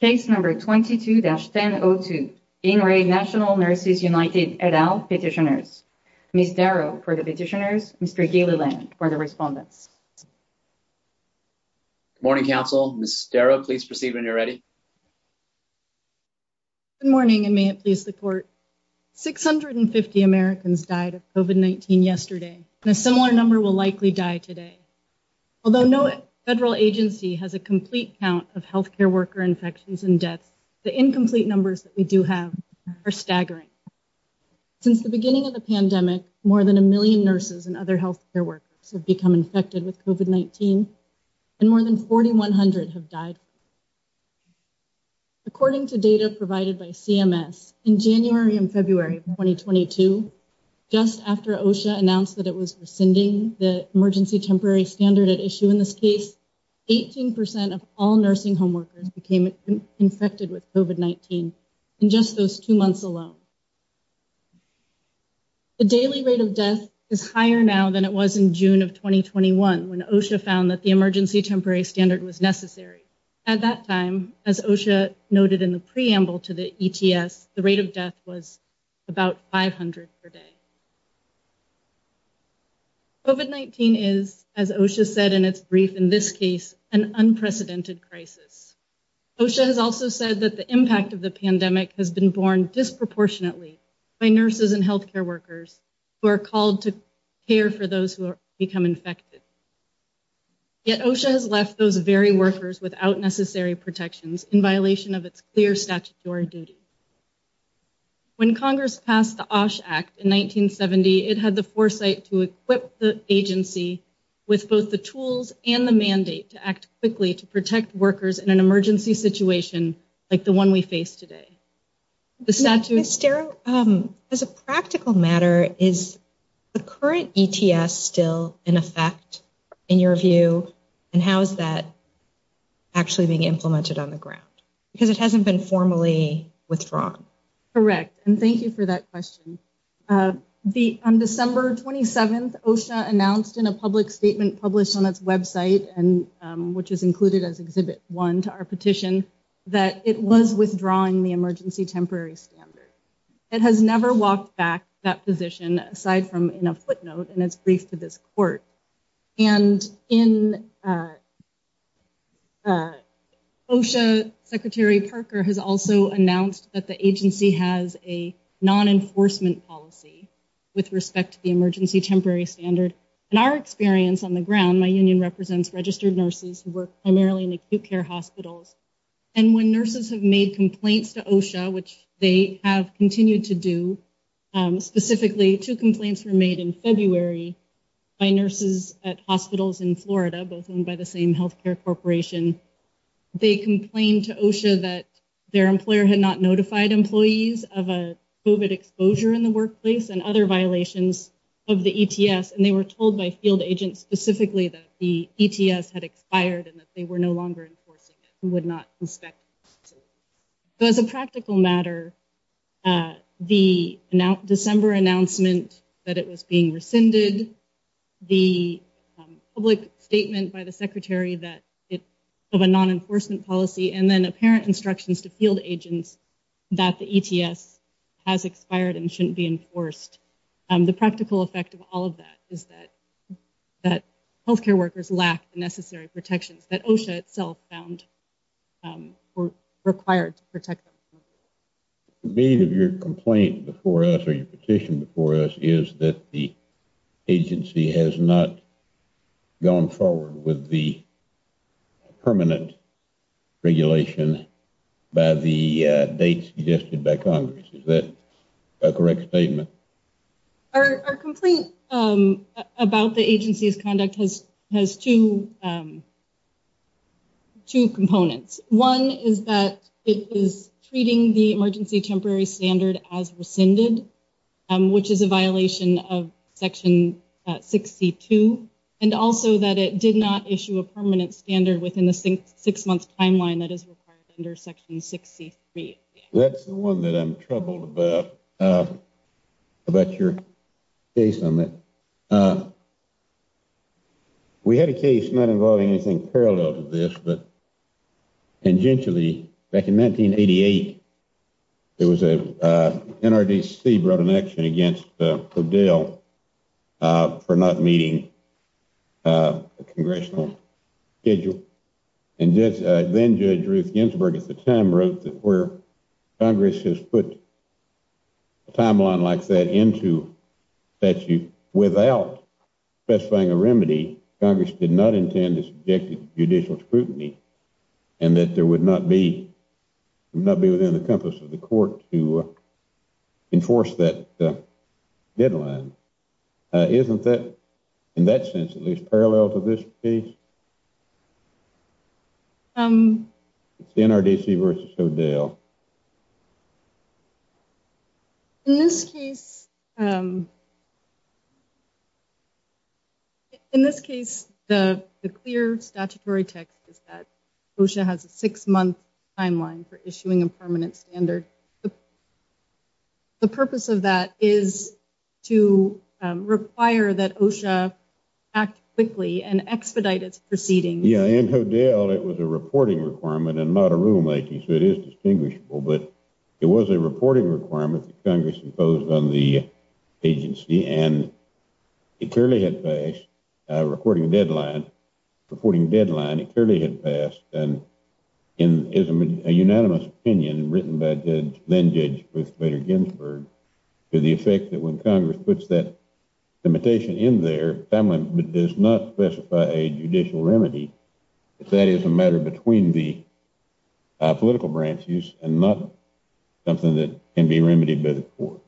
Case number 22-1002, In-Raid National Nurses United, et al. petitioners. Ms. Darrow for the petitioners, Mr. Gilliland for the respondents. Good morning, Council. Ms. Darrow, please proceed when you're ready. Good morning, and may it please the Court. 650 Americans died of COVID-19 yesterday, and a similar number will likely die today. Although no federal agency has a complete count of healthcare worker infections and deaths, the incomplete numbers that we do have are staggering. Since the beginning of the pandemic, more than a million nurses and other healthcare workers have become infected with COVID-19, and more than 4,100 have died. According to data provided by CMS, in January and February of 2022, just after OSHA announced that it was rescinding the Emergency Temporary Standard at issue in this case, 18% of all nursing home workers became infected with COVID-19 in just those two months alone. The daily rate of death is higher now than it was in June of 2021, when OSHA found that the Emergency Temporary Standard was necessary. At that time, as OSHA noted in the preamble to the ETS, the rate of death was about 500 per day. COVID-19 is, as OSHA said in its brief in this case, an unprecedented crisis. OSHA has also said that the impact of the pandemic has been borne disproportionately by nurses and healthcare workers who are called to care for those who become infected. Yet OSHA has left those very workers without necessary protections, in violation of its clear statutory duty. When Congress passed the OSH Act in 1970, it had the foresight to equip the agency with both the tools and the mandate to act quickly to protect workers in an emergency situation like the one we face today. As a practical matter, is the current ETS still in effect, in your view? And how is that actually being implemented on the ground? Because it hasn't been formally withdrawn. Correct, and thank you for that question. On December 27th, OSHA announced in a public statement published on its website, which is included as Exhibit 1 to our petition, that it was withdrawing the Emergency Temporary Standard. It has never walked back that position, aside from in a footnote in its brief to this court. And in OSHA, Secretary Parker has also announced that the agency has a non-enforcement policy with respect to the Emergency Temporary Standard. In our experience on the ground, my union represents registered nurses who work primarily in acute care hospitals. And when nurses have made complaints to OSHA, which they have continued to do, specifically two complaints were made in February by nurses at hospitals in Florida, both owned by the same healthcare corporation. They complained to OSHA that their employer had not notified employees of a COVID exposure in the workplace and other violations of the ETS, and they were told by field agents specifically that the ETS had expired and that they were no longer enforcing it and would not inspect it. So as a practical matter, the December announcement that it was being rescinded, the public statement by the Secretary of a non-enforcement policy, and then apparent instructions to field agents that the ETS has expired and shouldn't be enforced, the practical effect of all of that is that health care workers lack the necessary protections that OSHA itself found required to protect them. The beat of your complaint before us or your petition before us is that the agency has not gone forward with the permanent regulation by the date suggested by Congress. Is that a correct statement? Our complaint about the agency's conduct has two components. One is that it is treating the emergency temporary standard as rescinded, which is a violation of Section 6C2, and also that it did not issue a permanent standard within the six-month timeline that is required under Section 6C3. That's the one that I'm troubled about, about your case on that. We had a case not involving anything parallel to this, but tangentially, back in 1988, NRDC brought an action against O'Dell for not meeting a congressional schedule. And then Judge Ruth Ginsburg at the time wrote that where Congress has put a timeline like that into statute without specifying a remedy, Congress did not intend to subject it to judicial scrutiny, and that there would not be within the compass of the court to enforce that deadline. Isn't that, in that sense, at least parallel to this case? It's NRDC versus O'Dell. In this case, the clear statutory text is that OSHA has a six-month timeline for issuing a permanent standard. The purpose of that is to require that OSHA act quickly and expedite its proceedings. Yeah, in O'Dell, it was a reporting requirement and not a rulemaking, so it is distinguishable, but it was a reporting requirement that Congress imposed on the agency, and it clearly had passed a reporting deadline. It clearly had passed and is a unanimous opinion written by then-Judge Ruth Bader Ginsburg to the effect that when Congress puts that limitation in there, it does not specify a judicial remedy if that is a matter between the political branches and not something that can be remedied by the court.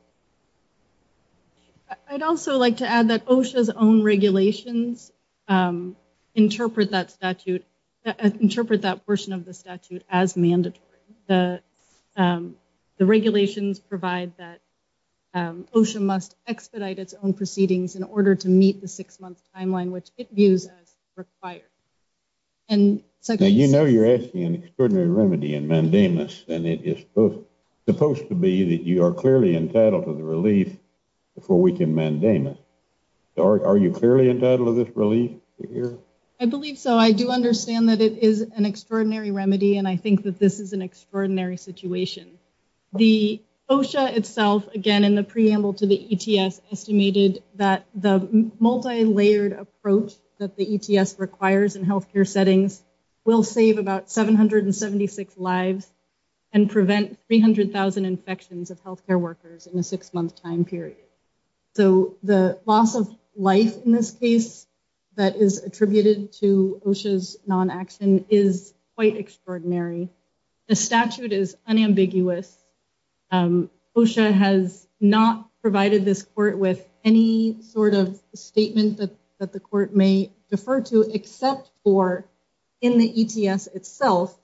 I'd also like to add that OSHA's own regulations interpret that portion of the statute as mandatory. The regulations provide that OSHA must expedite its own proceedings in order to meet the six-month timeline, which it views as required. Now, you know you're asking an extraordinary remedy in mandamus, and it is supposed to be that you are clearly entitled to the relief before we can mandamus. Are you clearly entitled to this relief? I believe so. I do understand that it is an extraordinary remedy, and I think that this is an extraordinary situation. The OSHA itself, again, in the preamble to the ETS, estimated that the multilayered approach that the ETS requires in healthcare settings will save about 776 lives and prevent 300,000 infections of healthcare workers in a six-month time period. So the loss of life in this case that is attributed to OSHA's non-action is quite extraordinary. The statute is unambiguous. OSHA has not provided this court with any sort of statement that the court may defer to except for in the ETS itself,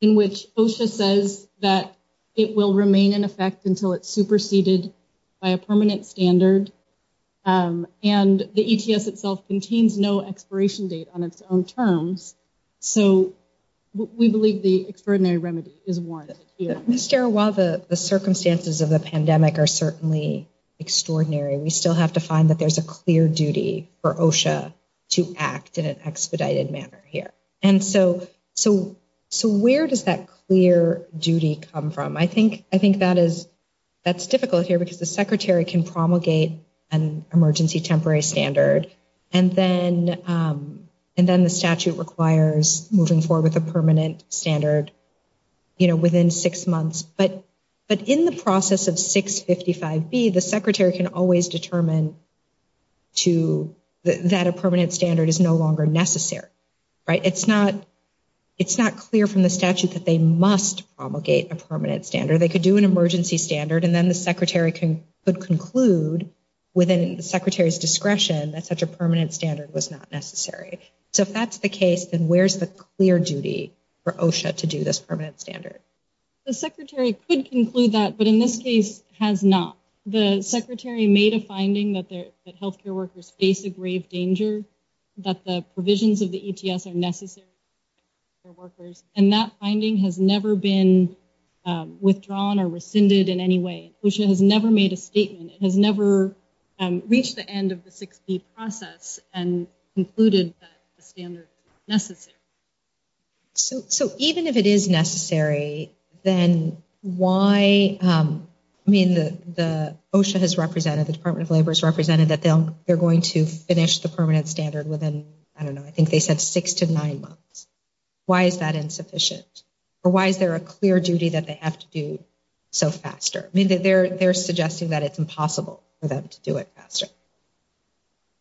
in which OSHA says that it will remain in effect until it's superseded by a permanent standard, and the ETS itself contains no expiration date on its own terms. So we believe the extraordinary remedy is warranted here. Ms. Guerra, while the circumstances of the pandemic are certainly extraordinary, we still have to find that there's a clear duty for OSHA to act in an expedited manner here. And so where does that clear duty come from? I think that's difficult here because the Secretary can promulgate an emergency temporary standard, and then the statute requires moving forward with a permanent standard within six months. But in the process of 655B, the Secretary can always determine that a permanent standard is no longer necessary. It's not clear from the statute that they must promulgate a permanent standard. They could do an emergency standard, and then the Secretary could conclude within the Secretary's discretion that such a permanent standard was not necessary. So if that's the case, then where's the clear duty for OSHA to do this permanent standard? The Secretary could conclude that, but in this case has not. The Secretary made a finding that health care workers face a grave danger, that the provisions of the ETS are necessary for health care workers, and that finding has never been withdrawn or rescinded in any way. OSHA has never made a statement. It has never reached the end of the 655B process and concluded that the standard is necessary. So even if it is necessary, then why – I mean, OSHA has represented, the Department of Labor has represented that they're going to finish the permanent standard within, I don't know, I think they said six to nine months. Why is that insufficient? Or why is there a clear duty that they have to do so faster? I mean, they're suggesting that it's impossible for them to do it faster.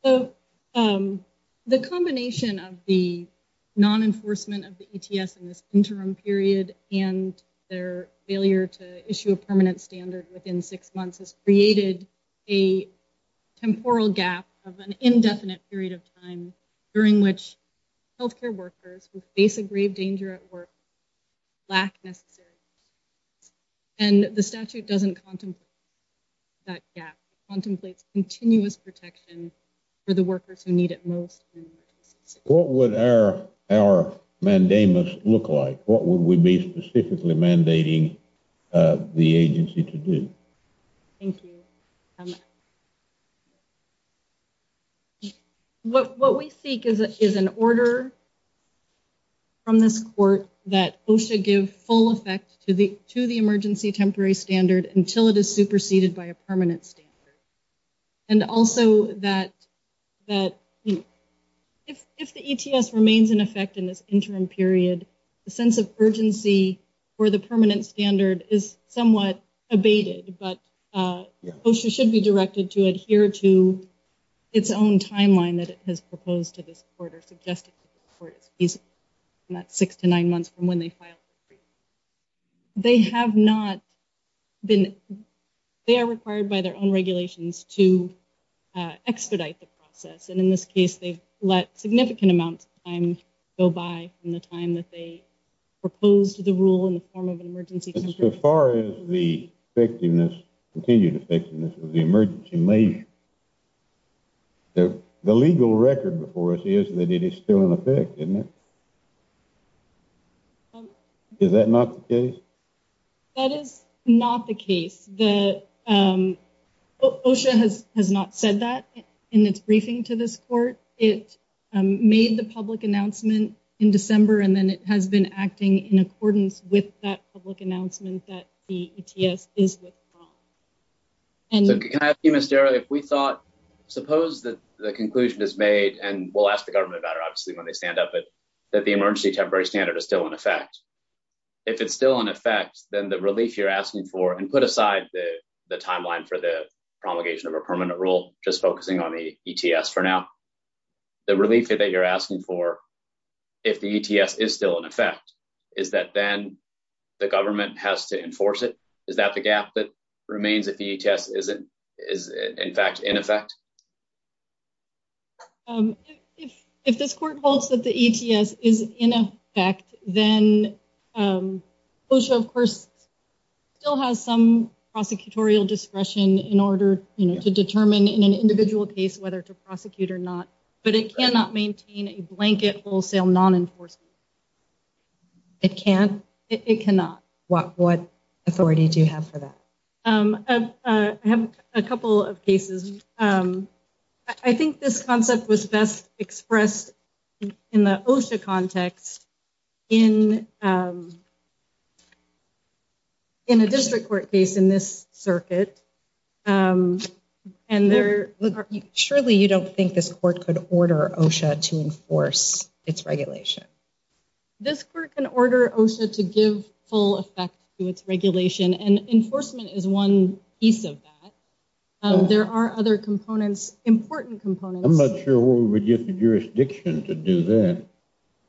So the combination of the non-enforcement of the ETS in this interim period and their failure to issue a permanent standard within six months has created a temporal gap of an indefinite period of time during which health care workers who face a grave danger at work lack necessary protections. And the statute doesn't contemplate that gap. It contemplates continuous protection for the workers who need it most. What would our mandamus look like? What would we be specifically mandating the agency to do? Thank you. What we seek is an order from this court that OSHA give full effect to the emergency temporary standard until it is superseded by a permanent standard. And also that if the ETS remains in effect in this interim period, the sense of urgency for the permanent standard is somewhat abated, but OSHA should be directed to adhere to its own timeline that it has proposed to this court or suggested to this court. And that's six to nine months from when they filed the brief. They are required by their own regulations to expedite the process. And in this case, they've let significant amounts of time go by from the time that they proposed the rule in the form of an emergency temporary standard. So far as the continued effectiveness of the emergency measure, the legal record before us is that it is still in effect, isn't it? Is that not the case? That is not the case. OSHA has not said that in its briefing to this court. It made the public announcement in December, and then it has been acting in accordance with that public announcement that the ETS is withdrawn. Can I ask you, Ms. Darrow, if we thought, suppose that the conclusion is made, and we'll ask the government about it obviously when they stand up, but that the emergency temporary standard is still in effect. If it's still in effect, then the relief you're asking for, and put aside the timeline for the promulgation of a permanent rule, just focusing on the ETS for now, the relief that you're asking for, if the ETS is still in effect, is that then the government has to enforce it? Is that the gap that remains if the ETS is in fact in effect? If this court holds that the ETS is in effect, then OSHA, of course, still has some prosecutorial discretion in order to determine in an individual case whether to prosecute or not, but it cannot maintain a blanket wholesale non-enforcement. It can't? It cannot. What authority do you have for that? I have a couple of cases. I think this concept was best expressed in the OSHA context in a district court case in this circuit, and surely you don't think this court could order OSHA to enforce its regulation? This court can order OSHA to give full effect to its regulation, and enforcement is one piece of that. There are other components, important components. I'm not sure where we would get the jurisdiction to do that.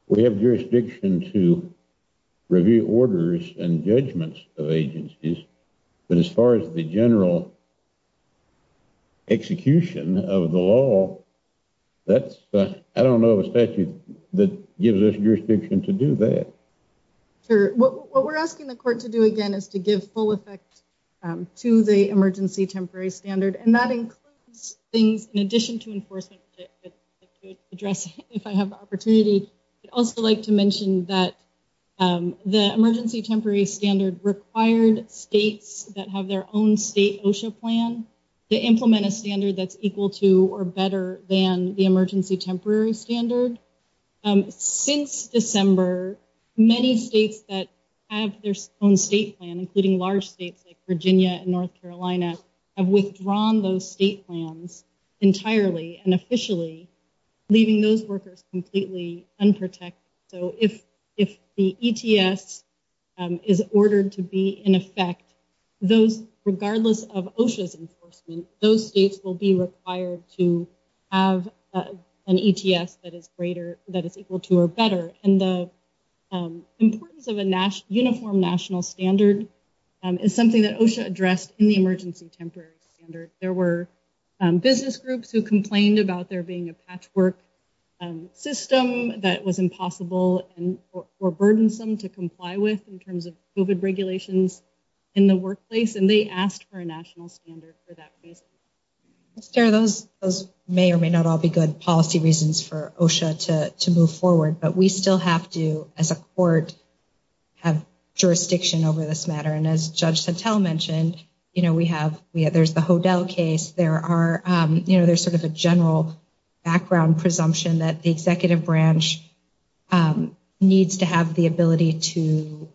We have jurisdiction to review orders and judgments of agencies, but as far as the general execution of the law, I don't know of a statute that gives us jurisdiction to do that. Sure. What we're asking the court to do again is to give full effect to the emergency temporary standard, and that includes things in addition to enforcement to address if I have the opportunity. I'd also like to mention that the emergency temporary standard required states that have their own state OSHA plan to implement a standard that's equal to or better than the emergency temporary standard. Since December, many states that have their own state plan, including large states like Virginia and North Carolina, have withdrawn those state plans entirely and officially, leaving those workers completely unprotected. So if the ETS is ordered to be in effect, regardless of OSHA's enforcement, those states will be required to have an ETS that is greater, that is equal to or better. The importance of a uniform national standard is something that OSHA addressed in the emergency temporary standard. There were business groups who complained about there being a patchwork system that was impossible or burdensome to comply with in terms of COVID regulations in the workplace, and they asked for a national standard for that reason. Those may or may not all be good policy reasons for OSHA to move forward, but we still have to, as a court, have jurisdiction over this matter. And as Judge Santel mentioned, there's the Hodel case. There's sort of a general background presumption that the executive branch needs to have the ability to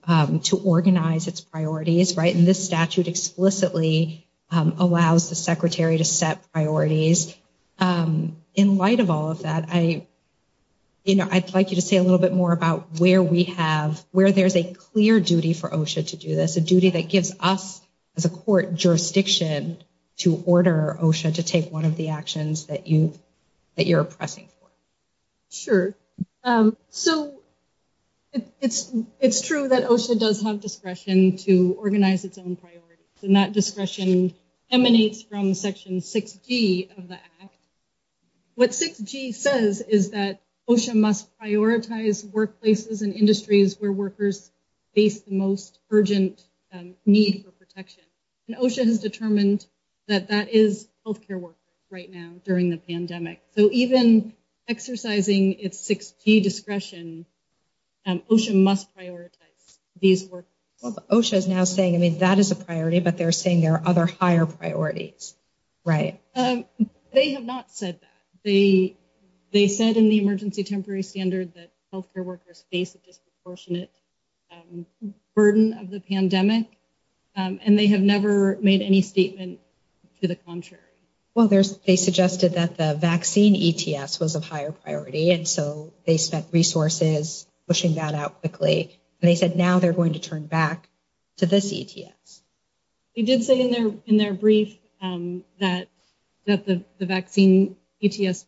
organize its priorities. And this statute explicitly allows the secretary to set priorities. In light of all of that, I'd like you to say a little bit more about where there's a clear duty for OSHA to do this, a duty that gives us as a court jurisdiction to order OSHA to take one of the actions that you're pressing for. Sure. So it's true that OSHA does have discretion to organize its own priorities, and that discretion emanates from Section 6G of the Act. What 6G says is that OSHA must prioritize workplaces and industries where workers face the most urgent need for protection. And OSHA has determined that that is health care workers right now during the pandemic. So even exercising its 6G discretion, OSHA must prioritize these workers. Well, OSHA is now saying, I mean, that is a priority, but they're saying there are other higher priorities, right? They have not said that. They said in the emergency temporary standard that health care workers face a disproportionate burden of the pandemic, and they have never made any statement to the contrary. Well, they suggested that the vaccine ETS was of higher priority, and so they spent resources pushing that out quickly. And they said now they're going to turn back to this ETS. They did say in their brief that the vaccine ETS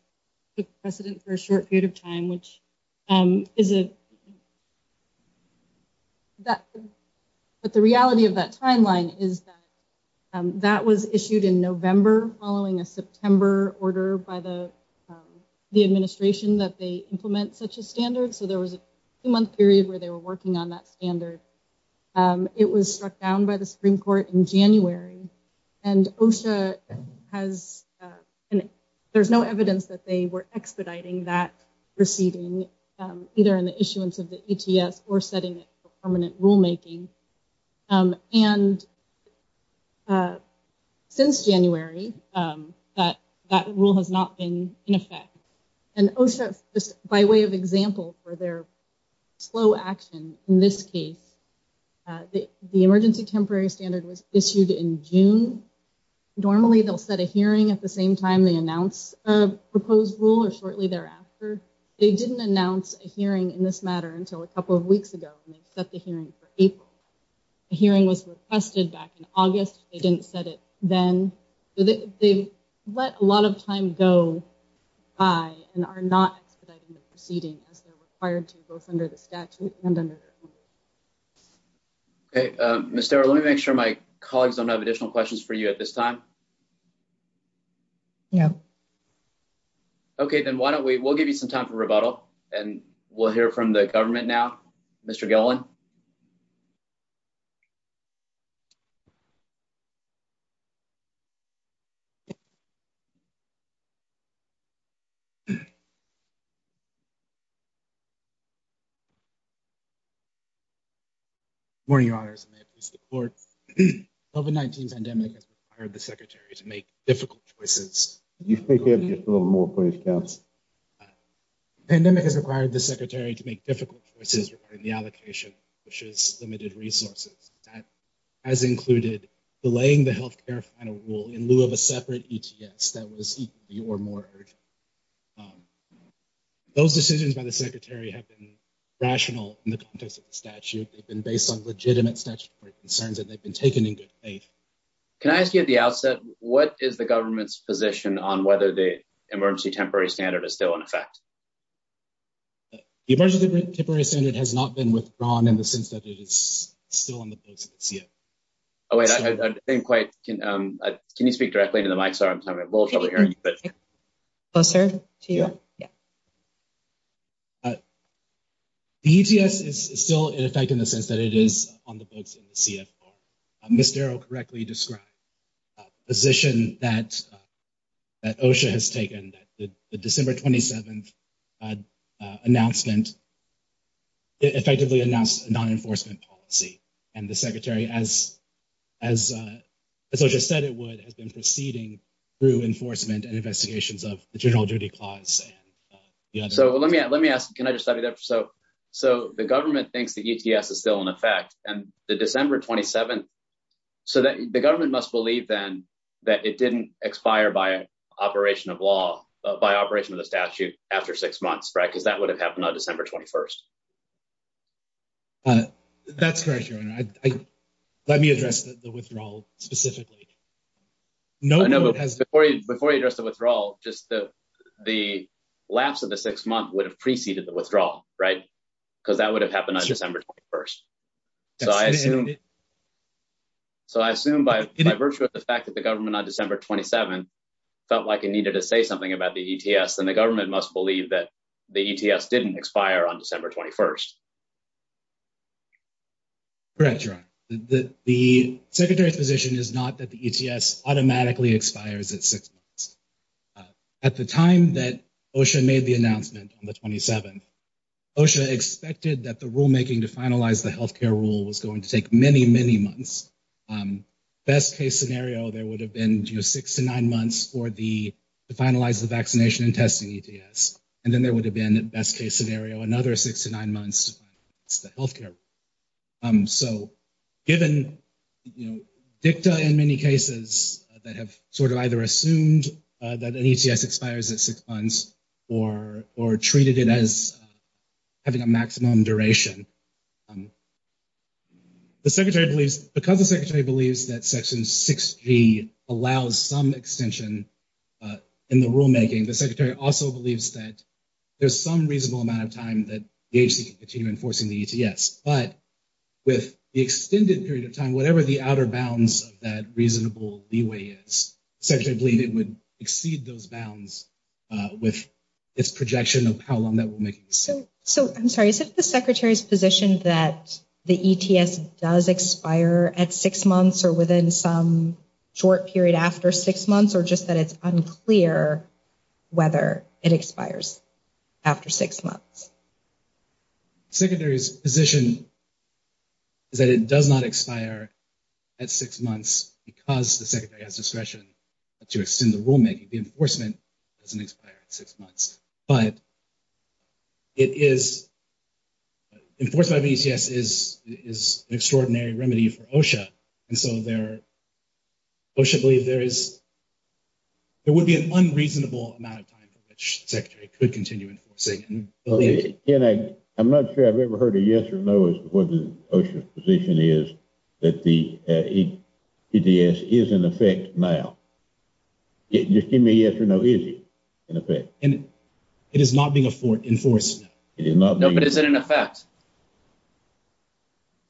took precedent for a short period of time, which is a. But the reality of that timeline is that that was issued in November following a September order by the administration that they implement such a standard. So there was a month period where they were working on that standard. It was struck down by the Supreme Court in January. And OSHA has there's no evidence that they were expediting that proceeding, either in the issuance of the ETS or setting permanent rulemaking. And since January, that that rule has not been in effect. And OSHA, by way of example for their slow action in this case, the emergency temporary standard was issued in June. Normally, they'll set a hearing at the same time they announce a proposed rule or shortly thereafter. They didn't announce a hearing in this matter until a couple of weeks ago. And they set the hearing for April. The hearing was requested back in August. They didn't set it then. They let a lot of time go by and are not expediting the proceeding as they're required to both under the statute and under. Hey, Mr. Let me make sure my colleagues don't have additional questions for you at this time. Yeah. OK, then why don't we we'll give you some time for rebuttal and we'll hear from the government now, Mr. Golan. OK. Morning, your Honor, may I please report? COVID-19 pandemic has required the secretary to make difficult choices. You think you have just a little more points? Pandemic has required the secretary to make difficult choices regarding the allocation, which is limited resources. That has included delaying the health care final rule in lieu of a separate. Yes, that was your more. Those decisions by the secretary have been rational in the context of the statute. They've been based on legitimate statutory concerns that they've been taken in good faith. Can I ask you at the outset, what is the government's position on whether the emergency temporary standard is still in effect? The emergency temporary standard has not been withdrawn in the sense that it is still on the books. Oh, wait, I think quite. Can you speak directly to the mic? Sorry, I'm having a little trouble hearing you. Closer to you. The U.S. is still in effect in the sense that it is on the books. Mr. O correctly described position that that OSHA has taken the December 27th announcement. Effectively announced non-enforcement policy and the secretary, as as I just said, it would have been proceeding through enforcement and investigations of the general duty clause. So let me let me ask, can I just say that? So so the government thinks that is still in effect and the December 27th. So the government must believe then that it didn't expire by operation of law, by operation of the statute after six months, because that would have happened on December 21st. That's correct. Let me address the withdrawal specifically. No, no. Before you before you address the withdrawal, just the the lapse of the six month would have preceded the withdrawal. Right. So I assume. So I assume by virtue of the fact that the government on December 27 felt like it needed to say something about the ETS, then the government must believe that the ETS didn't expire on December 21st. Correct. The secretary's position is not that the ETS automatically expires at six months. At the time that OSHA made the announcement on the 27th, OSHA expected that the rulemaking to finalize the health care rule was going to take many, many months. Best case scenario, there would have been six to nine months for the finalize the vaccination and testing ETS. And then there would have been a best case scenario, another six to nine months to health care. So given, you know, dicta in many cases that have sort of either assumed that the ETS expires at six months or or treated it as having a maximum duration. The secretary believes because the secretary believes that Section 6G allows some extension in the rulemaking, the secretary also believes that there's some reasonable amount of time that the agency can continue enforcing the ETS. But with the extended period of time, whatever the outer bounds of that reasonable leeway is, the secretary believes it would exceed those bounds with its projection of how long that will make it. So so I'm sorry, is it the secretary's position that the ETS does expire at six months or within some short period after six months, or just that it's unclear whether it expires after six months? Secretary's position. Is that it does not expire at six months because the secretary has discretion to extend the rulemaking, the enforcement doesn't expire six months, but. It is. Enforcement of ETS is is an extraordinary remedy for OSHA, and so there. OSHA believes there is. There would be an unreasonable amount of time for which the secretary could continue enforcing. And I'm not sure I've ever heard a yes or no is what the OSHA's position is that the ETS is in effect now. Just give me a yes or no, is it in effect? It is not being enforced now. It is not. But is it in effect?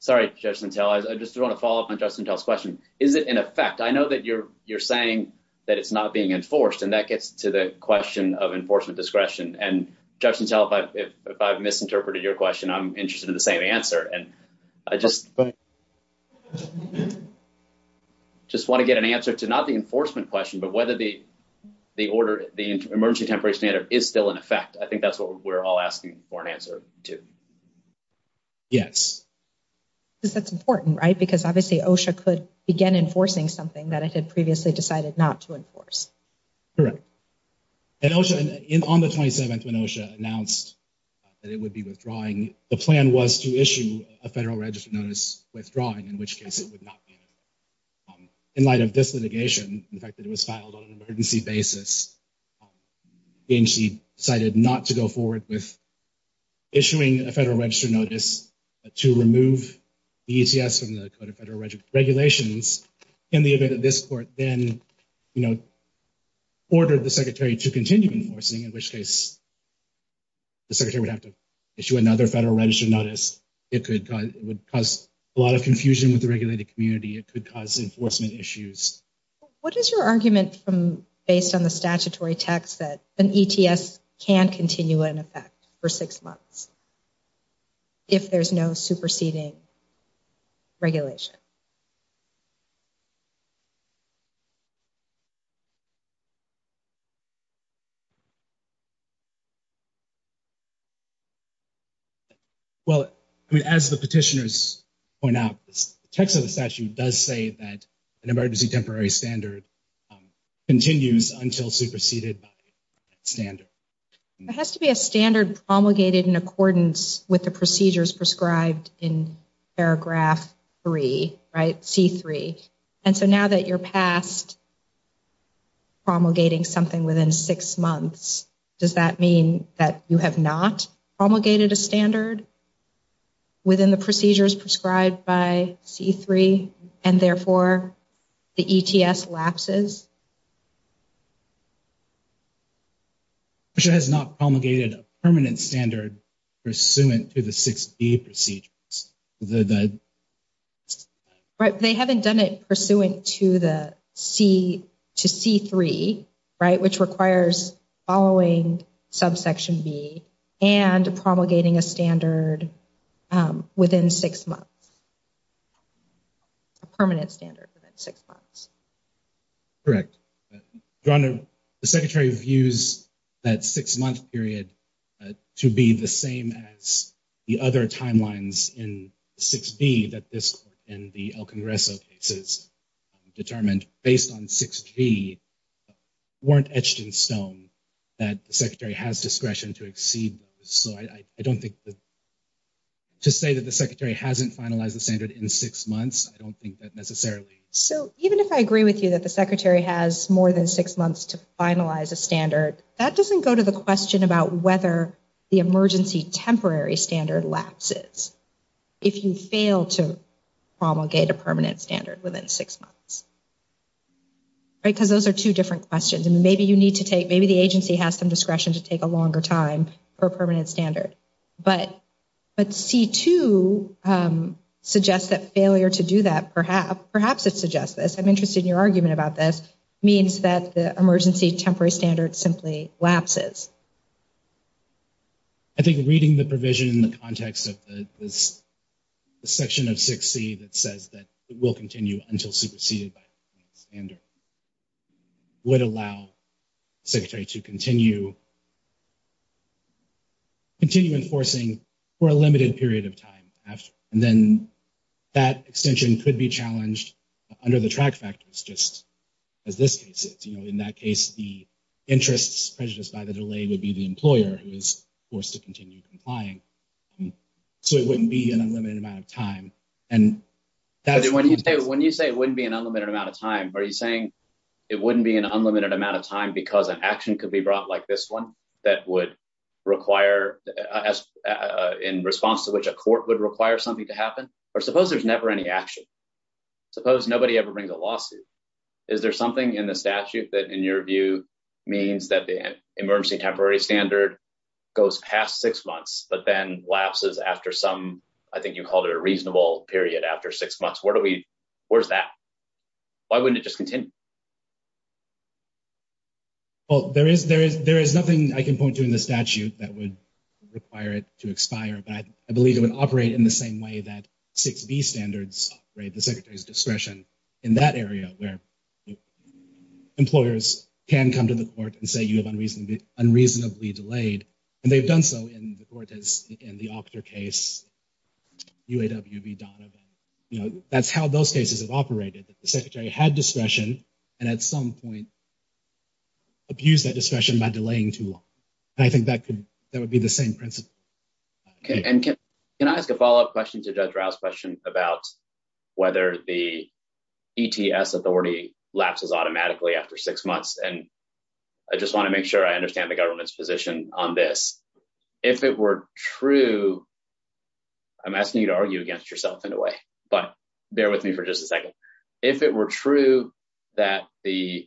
Sorry, I just want to follow up on Justin's question. Is it in effect? I know that you're you're saying that it's not being enforced and that gets to the question of enforcement discretion. And if I've misinterpreted your question, I'm interested in the same answer. And I just. Just want to get an answer to not the enforcement question, but whether the the order, the emergency temperature is still in effect. I think that's what we're all asking for an answer to. Yes. Because that's important, right? Because obviously OSHA could begin enforcing something that it had previously decided not to enforce. Correct. And OSHA, on the 27th, when OSHA announced that it would be withdrawing, the plan was to issue a federal register notice withdrawing, in which case it would not be. In light of this litigation, in fact, it was filed on an emergency basis. And she decided not to go forward with. Issuing a federal register notice to remove the ECS from the Code of Federal Regulations in the event of this court, then, you know. Ordered the secretary to continue enforcing, in which case. The secretary would have to issue another federal register notice. It could it would cause a lot of confusion with the regulated community. It could cause enforcement issues. What is your argument from based on the statutory text that an ETS can continue in effect for six months? If there's no superseding regulation. Well, I mean, as the petitioners point out, the text of the statute does say that an emergency temporary standard continues until superseded standard. It has to be a standard promulgated in accordance with the procedures prescribed in paragraph three, right? C3. And so now that you're passed. Promulgating something within six months. Does that mean that you have not promulgated a standard? Within the procedures prescribed by C3 and therefore the ETS lapses. Patricia has not promulgated a permanent standard pursuant to the 6B procedures. They haven't done it pursuant to the C3, right? Which requires following subsection B and promulgating a standard within six months. A permanent standard within six months. Correct. The secretary views that six month period to be the same as the other timelines in 6B that this and the El Congreso cases determined based on 6B weren't etched in stone that the secretary has discretion to exceed. So I don't think that to say that the secretary hasn't finalized the standard in six months. I don't think that necessarily. So even if I agree with you that the secretary has more than six months to finalize a standard, that doesn't go to the question about whether the emergency temporary standard lapses. If you fail to promulgate a permanent standard within six months. Because those are two different questions and maybe you need to take, maybe the agency has some discretion to take a longer time for a permanent standard. But C2 suggests that failure to do that, perhaps it suggests this, I'm interested in your argument about this, means that the emergency temporary standard simply lapses. I think reading the provision in the context of the section of 6C that says that it will continue until superseded by a standard would allow the secretary to continue enforcing for a limited period of time. And then that extension could be challenged under the track factors, just as this case is. In that case, the interests prejudiced by the delay would be the employer who is forced to continue complying. So it wouldn't be an unlimited amount of time. When you say it wouldn't be an unlimited amount of time, are you saying it wouldn't be an unlimited amount of time because an action could be brought like this one that would require, in response to which a court would require something to happen? Or suppose there's never any action. Suppose nobody ever brings a lawsuit. Is there something in the statute that, in your view, means that the emergency temporary standard goes past six months, but then lapses after some, I think you called it a reasonable period after six months? Where do we, where's that? Why wouldn't it just continue? Well, there is, there is, there is nothing I can point to in the statute that would require it to expire. But I believe it would operate in the same way that 6B standards operate, the secretary's discretion in that area where employers can come to the court and say you have unreasonably, unreasonably delayed. And they've done so in the court, as in the Octor case, UAW v. Donovan. You know, that's how those cases have operated. The secretary had discretion and at some point abused that discretion by delaying too long. And I think that could, that would be the same principle. And can I ask a follow up question to Judge Rouse's question about whether the ETS authority lapses automatically after six months? And I just want to make sure I understand the government's position on this. If it were true, I'm asking you to argue against yourself in a way, but bear with me for just a second. If it were true that the,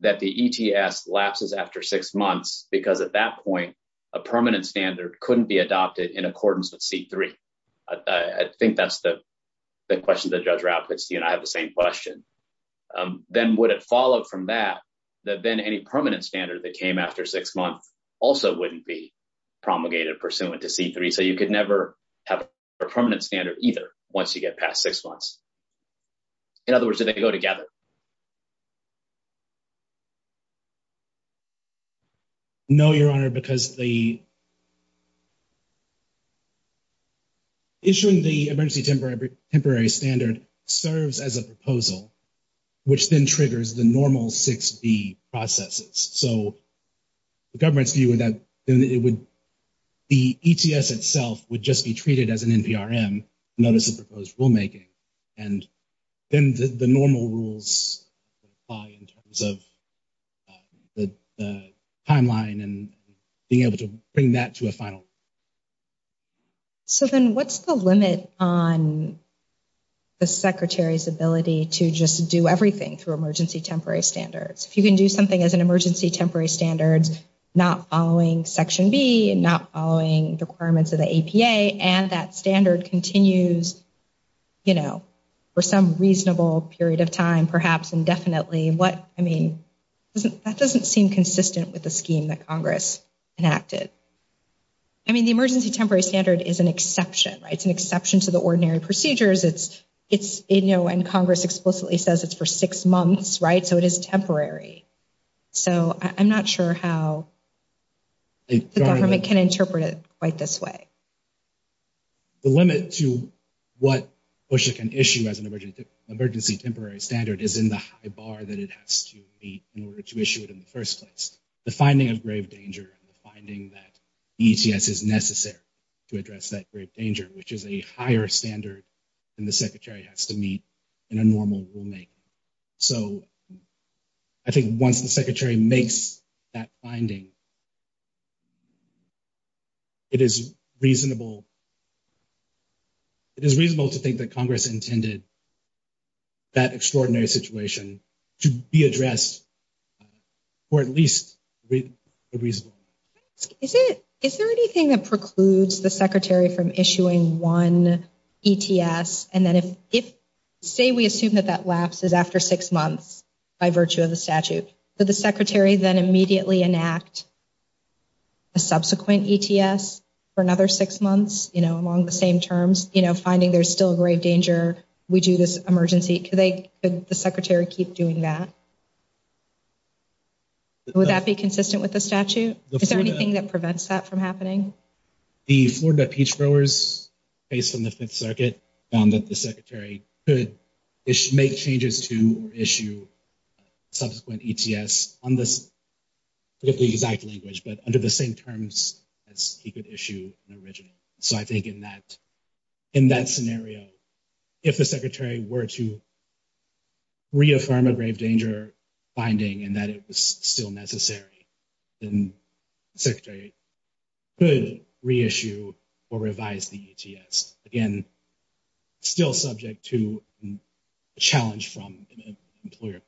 that the ETS lapses after six months, because at that point, a permanent standard couldn't be adopted in accordance with C3. I think that's the question that Judge Rouse puts to you, and I have the same question. Then would it follow from that, that then any permanent standard that came after six months also wouldn't be promulgated pursuant to C3. So you could never have a permanent standard either once you get past six months. In other words, do they go together? No, Your Honor, because the issuing the emergency temporary standard serves as a proposal, which then triggers the normal 6B processes. So the government's view is that the ETS itself would just be treated as an NPRM, notice of proposed rulemaking. And then the normal rules apply in terms of the timeline and being able to bring that to a final. So then what's the limit on the Secretary's ability to just do everything through emergency temporary standards? If you can do something as an emergency temporary standards, not following Section B and not following requirements of the APA, and that standard continues, you know, for some reasonable period of time, perhaps indefinitely, what, I mean, that doesn't seem consistent with the scheme that Congress enacted. I mean, the emergency temporary standard is an exception, right? It's an exception to the ordinary procedures. It's, you know, and Congress explicitly says it's for six months, right? So it is temporary. So I'm not sure how the government can interpret it quite this way. The limit to what PUSHA can issue as an emergency temporary standard is in the high bar that it has to meet in order to issue it in the first place. The finding of grave danger and the finding that ETS is necessary to address that grave danger, which is a higher standard than the Secretary has to meet in a normal rulemaking. So I think once the Secretary makes that finding, it is reasonable to think that Congress intended that extraordinary situation to be addressed for at least a reasonable period of time. Is there anything that precludes the Secretary from issuing one ETS, and then if, say, we assume that that lapse is after six months by virtue of the statute, could the Secretary then immediately enact a subsequent ETS for another six months, you know, along the same terms, you know, finding there's still grave danger, we do this emergency? Could the Secretary keep doing that? Would that be consistent with the statute? Is there anything that prevents that from happening? The Florida Peach Growers case from the Fifth Circuit found that the Secretary could make changes to or issue subsequent ETS on this, not the exact language, but under the same terms as he could issue an original. So I think in that, in that scenario, if the Secretary were to reaffirm a grave danger finding and that it was still necessary, then the Secretary could reissue or revise the ETS. Again, still subject to challenge from an employer.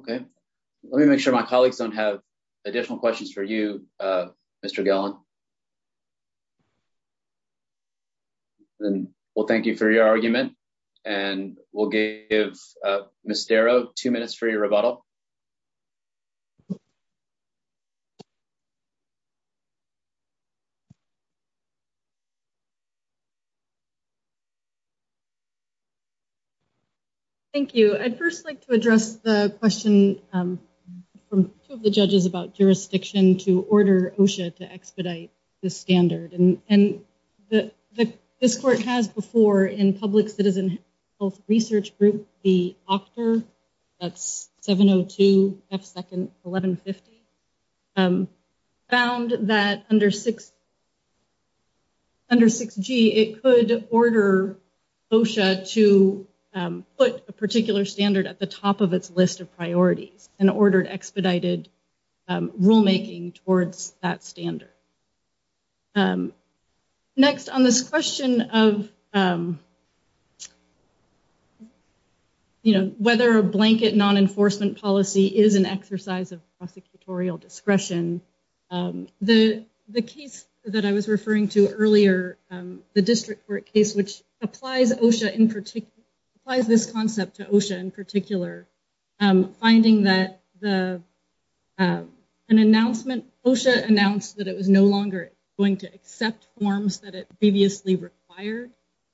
OK, let me make sure my colleagues don't have additional questions for you, Mr. Gellin. Well, thank you for your argument, and we'll give Ms. Darrow two minutes for your rebuttal. Thank you. I'd first like to address the question from two of the judges about jurisdiction to order OSHA to expedite the standard. And this court has before in public citizen health research group, the OCHTR, that's 702. 1150, found that under 6G, it could order OSHA to put a particular standard at the top of its list of priorities and ordered expedited rulemaking towards that standard. Next on this question of, you know, whether a blanket non-enforcement policy is an exercise of prosecutorial discretion, the case that I was referring to earlier, the district court case, which applies OSHA in particular, applies this concept to OSHA in particular, finding that an announcement, OSHA announced that it was no longer going to accept forms that it previously required,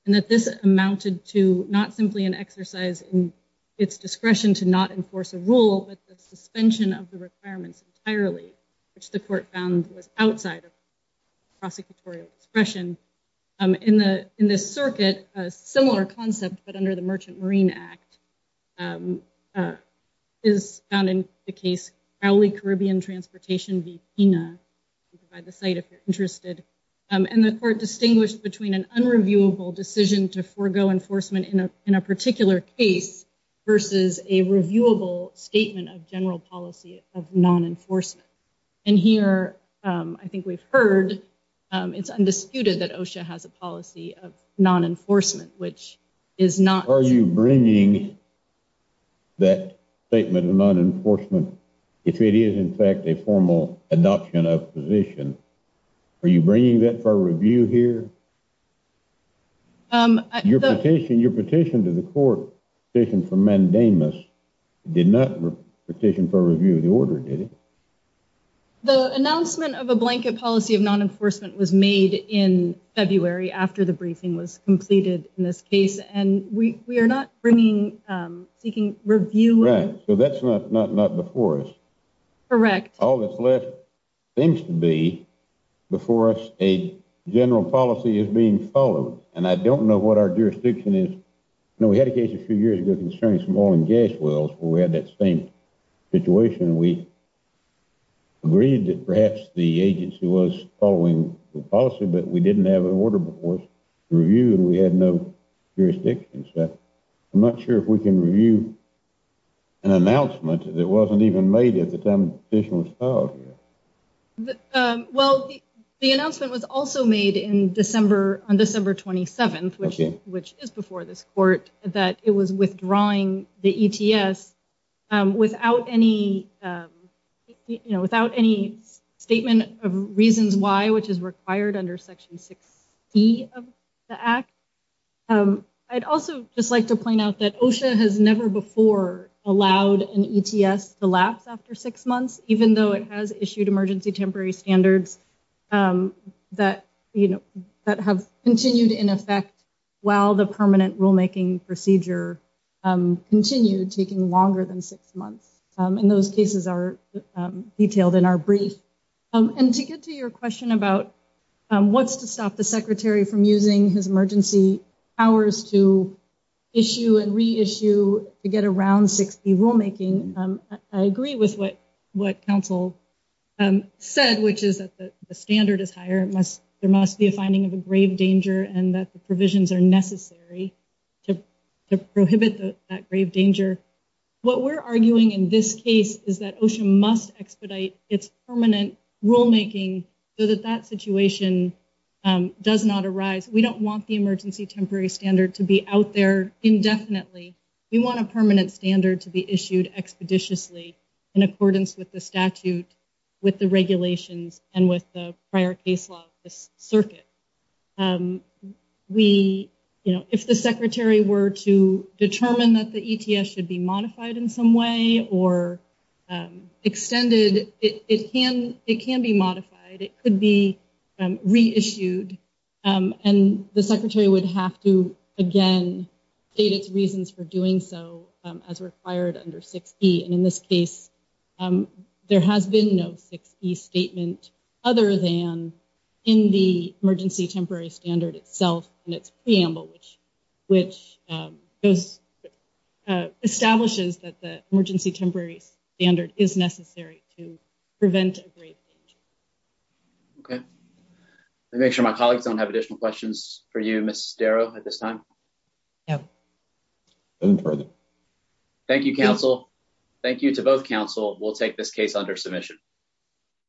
and that this amounted to not simply an exercise in its discretion to not enforce a rule, but the suspension of the requirements entirely, which the court found was outside of prosecutorial discretion. In this circuit, a similar concept, but under the Merchant Marine Act, is found in the case Crowley Caribbean Transportation v. PINA, by the site if you're interested, and the court distinguished between an unreviewable decision to forego enforcement in a particular case versus a reviewable statement of general policy of non-enforcement. And here, I think we've heard, it's undisputed that OSHA has a policy of non-enforcement, which is not... Are you bringing that statement of non-enforcement, if it is in fact a formal adoption of position, are you bringing that for review here? Your petition to the court, petition for mandamus, did not petition for review of the order, did it? The announcement of a blanket policy of non-enforcement was made in February after the briefing was completed in this case, and we are not bringing, seeking review... Right, so that's not before us. Correct. All that's left seems to be, before us, a general policy is being followed, and I don't know what our jurisdiction is. You know, we had a case a few years ago concerning some oil and gas wells, where we had that same situation, and we agreed that perhaps the agency was following the policy, but we didn't have an order before us to review, and we had no jurisdiction. I'm not sure if we can review an announcement that wasn't even made at the time the petition was filed here. Well, the announcement was also made in December, on December 27th, which is before this court, that it was withdrawing the ETS without any, you know, without any statement of reasons why, which is required under Section 60 of the Act. I'd also just like to point out that OSHA has never before allowed an ETS to lapse after six months, even though it has issued emergency temporary standards that, you know, that have continued in effect while the permanent rulemaking procedure continued, taking longer than six months. And those cases are detailed in our brief. And to get to your question about what's to stop the Secretary from using his emergency powers to issue and reissue to get around 6B rulemaking, I agree with what Council said, which is that the standard is higher. There must be a finding of a grave danger and that the provisions are necessary to prohibit that grave danger. What we're arguing in this case is that OSHA must expedite its permanent rulemaking so that that situation does not arise. We don't want the emergency temporary standard to be out there indefinitely. We want a permanent standard to be issued expeditiously in accordance with the statute, with the regulations, and with the prior case law of this circuit. We, you know, if the Secretary were to determine that the ETS should be modified in some way or extended, it can be modified. It could be reissued. And the Secretary would have to, again, state its reasons for doing so as required under 6B. And in this case, there has been no 6B statement other than in the emergency temporary standard itself and its preamble, which establishes that the emergency temporary standard is necessary to prevent a grave danger. Okay. Let me make sure my colleagues don't have additional questions for you, Ms. Darrow, at this time. No. No further. Thank you, counsel. Thank you to both counsel. We'll take this case under submission.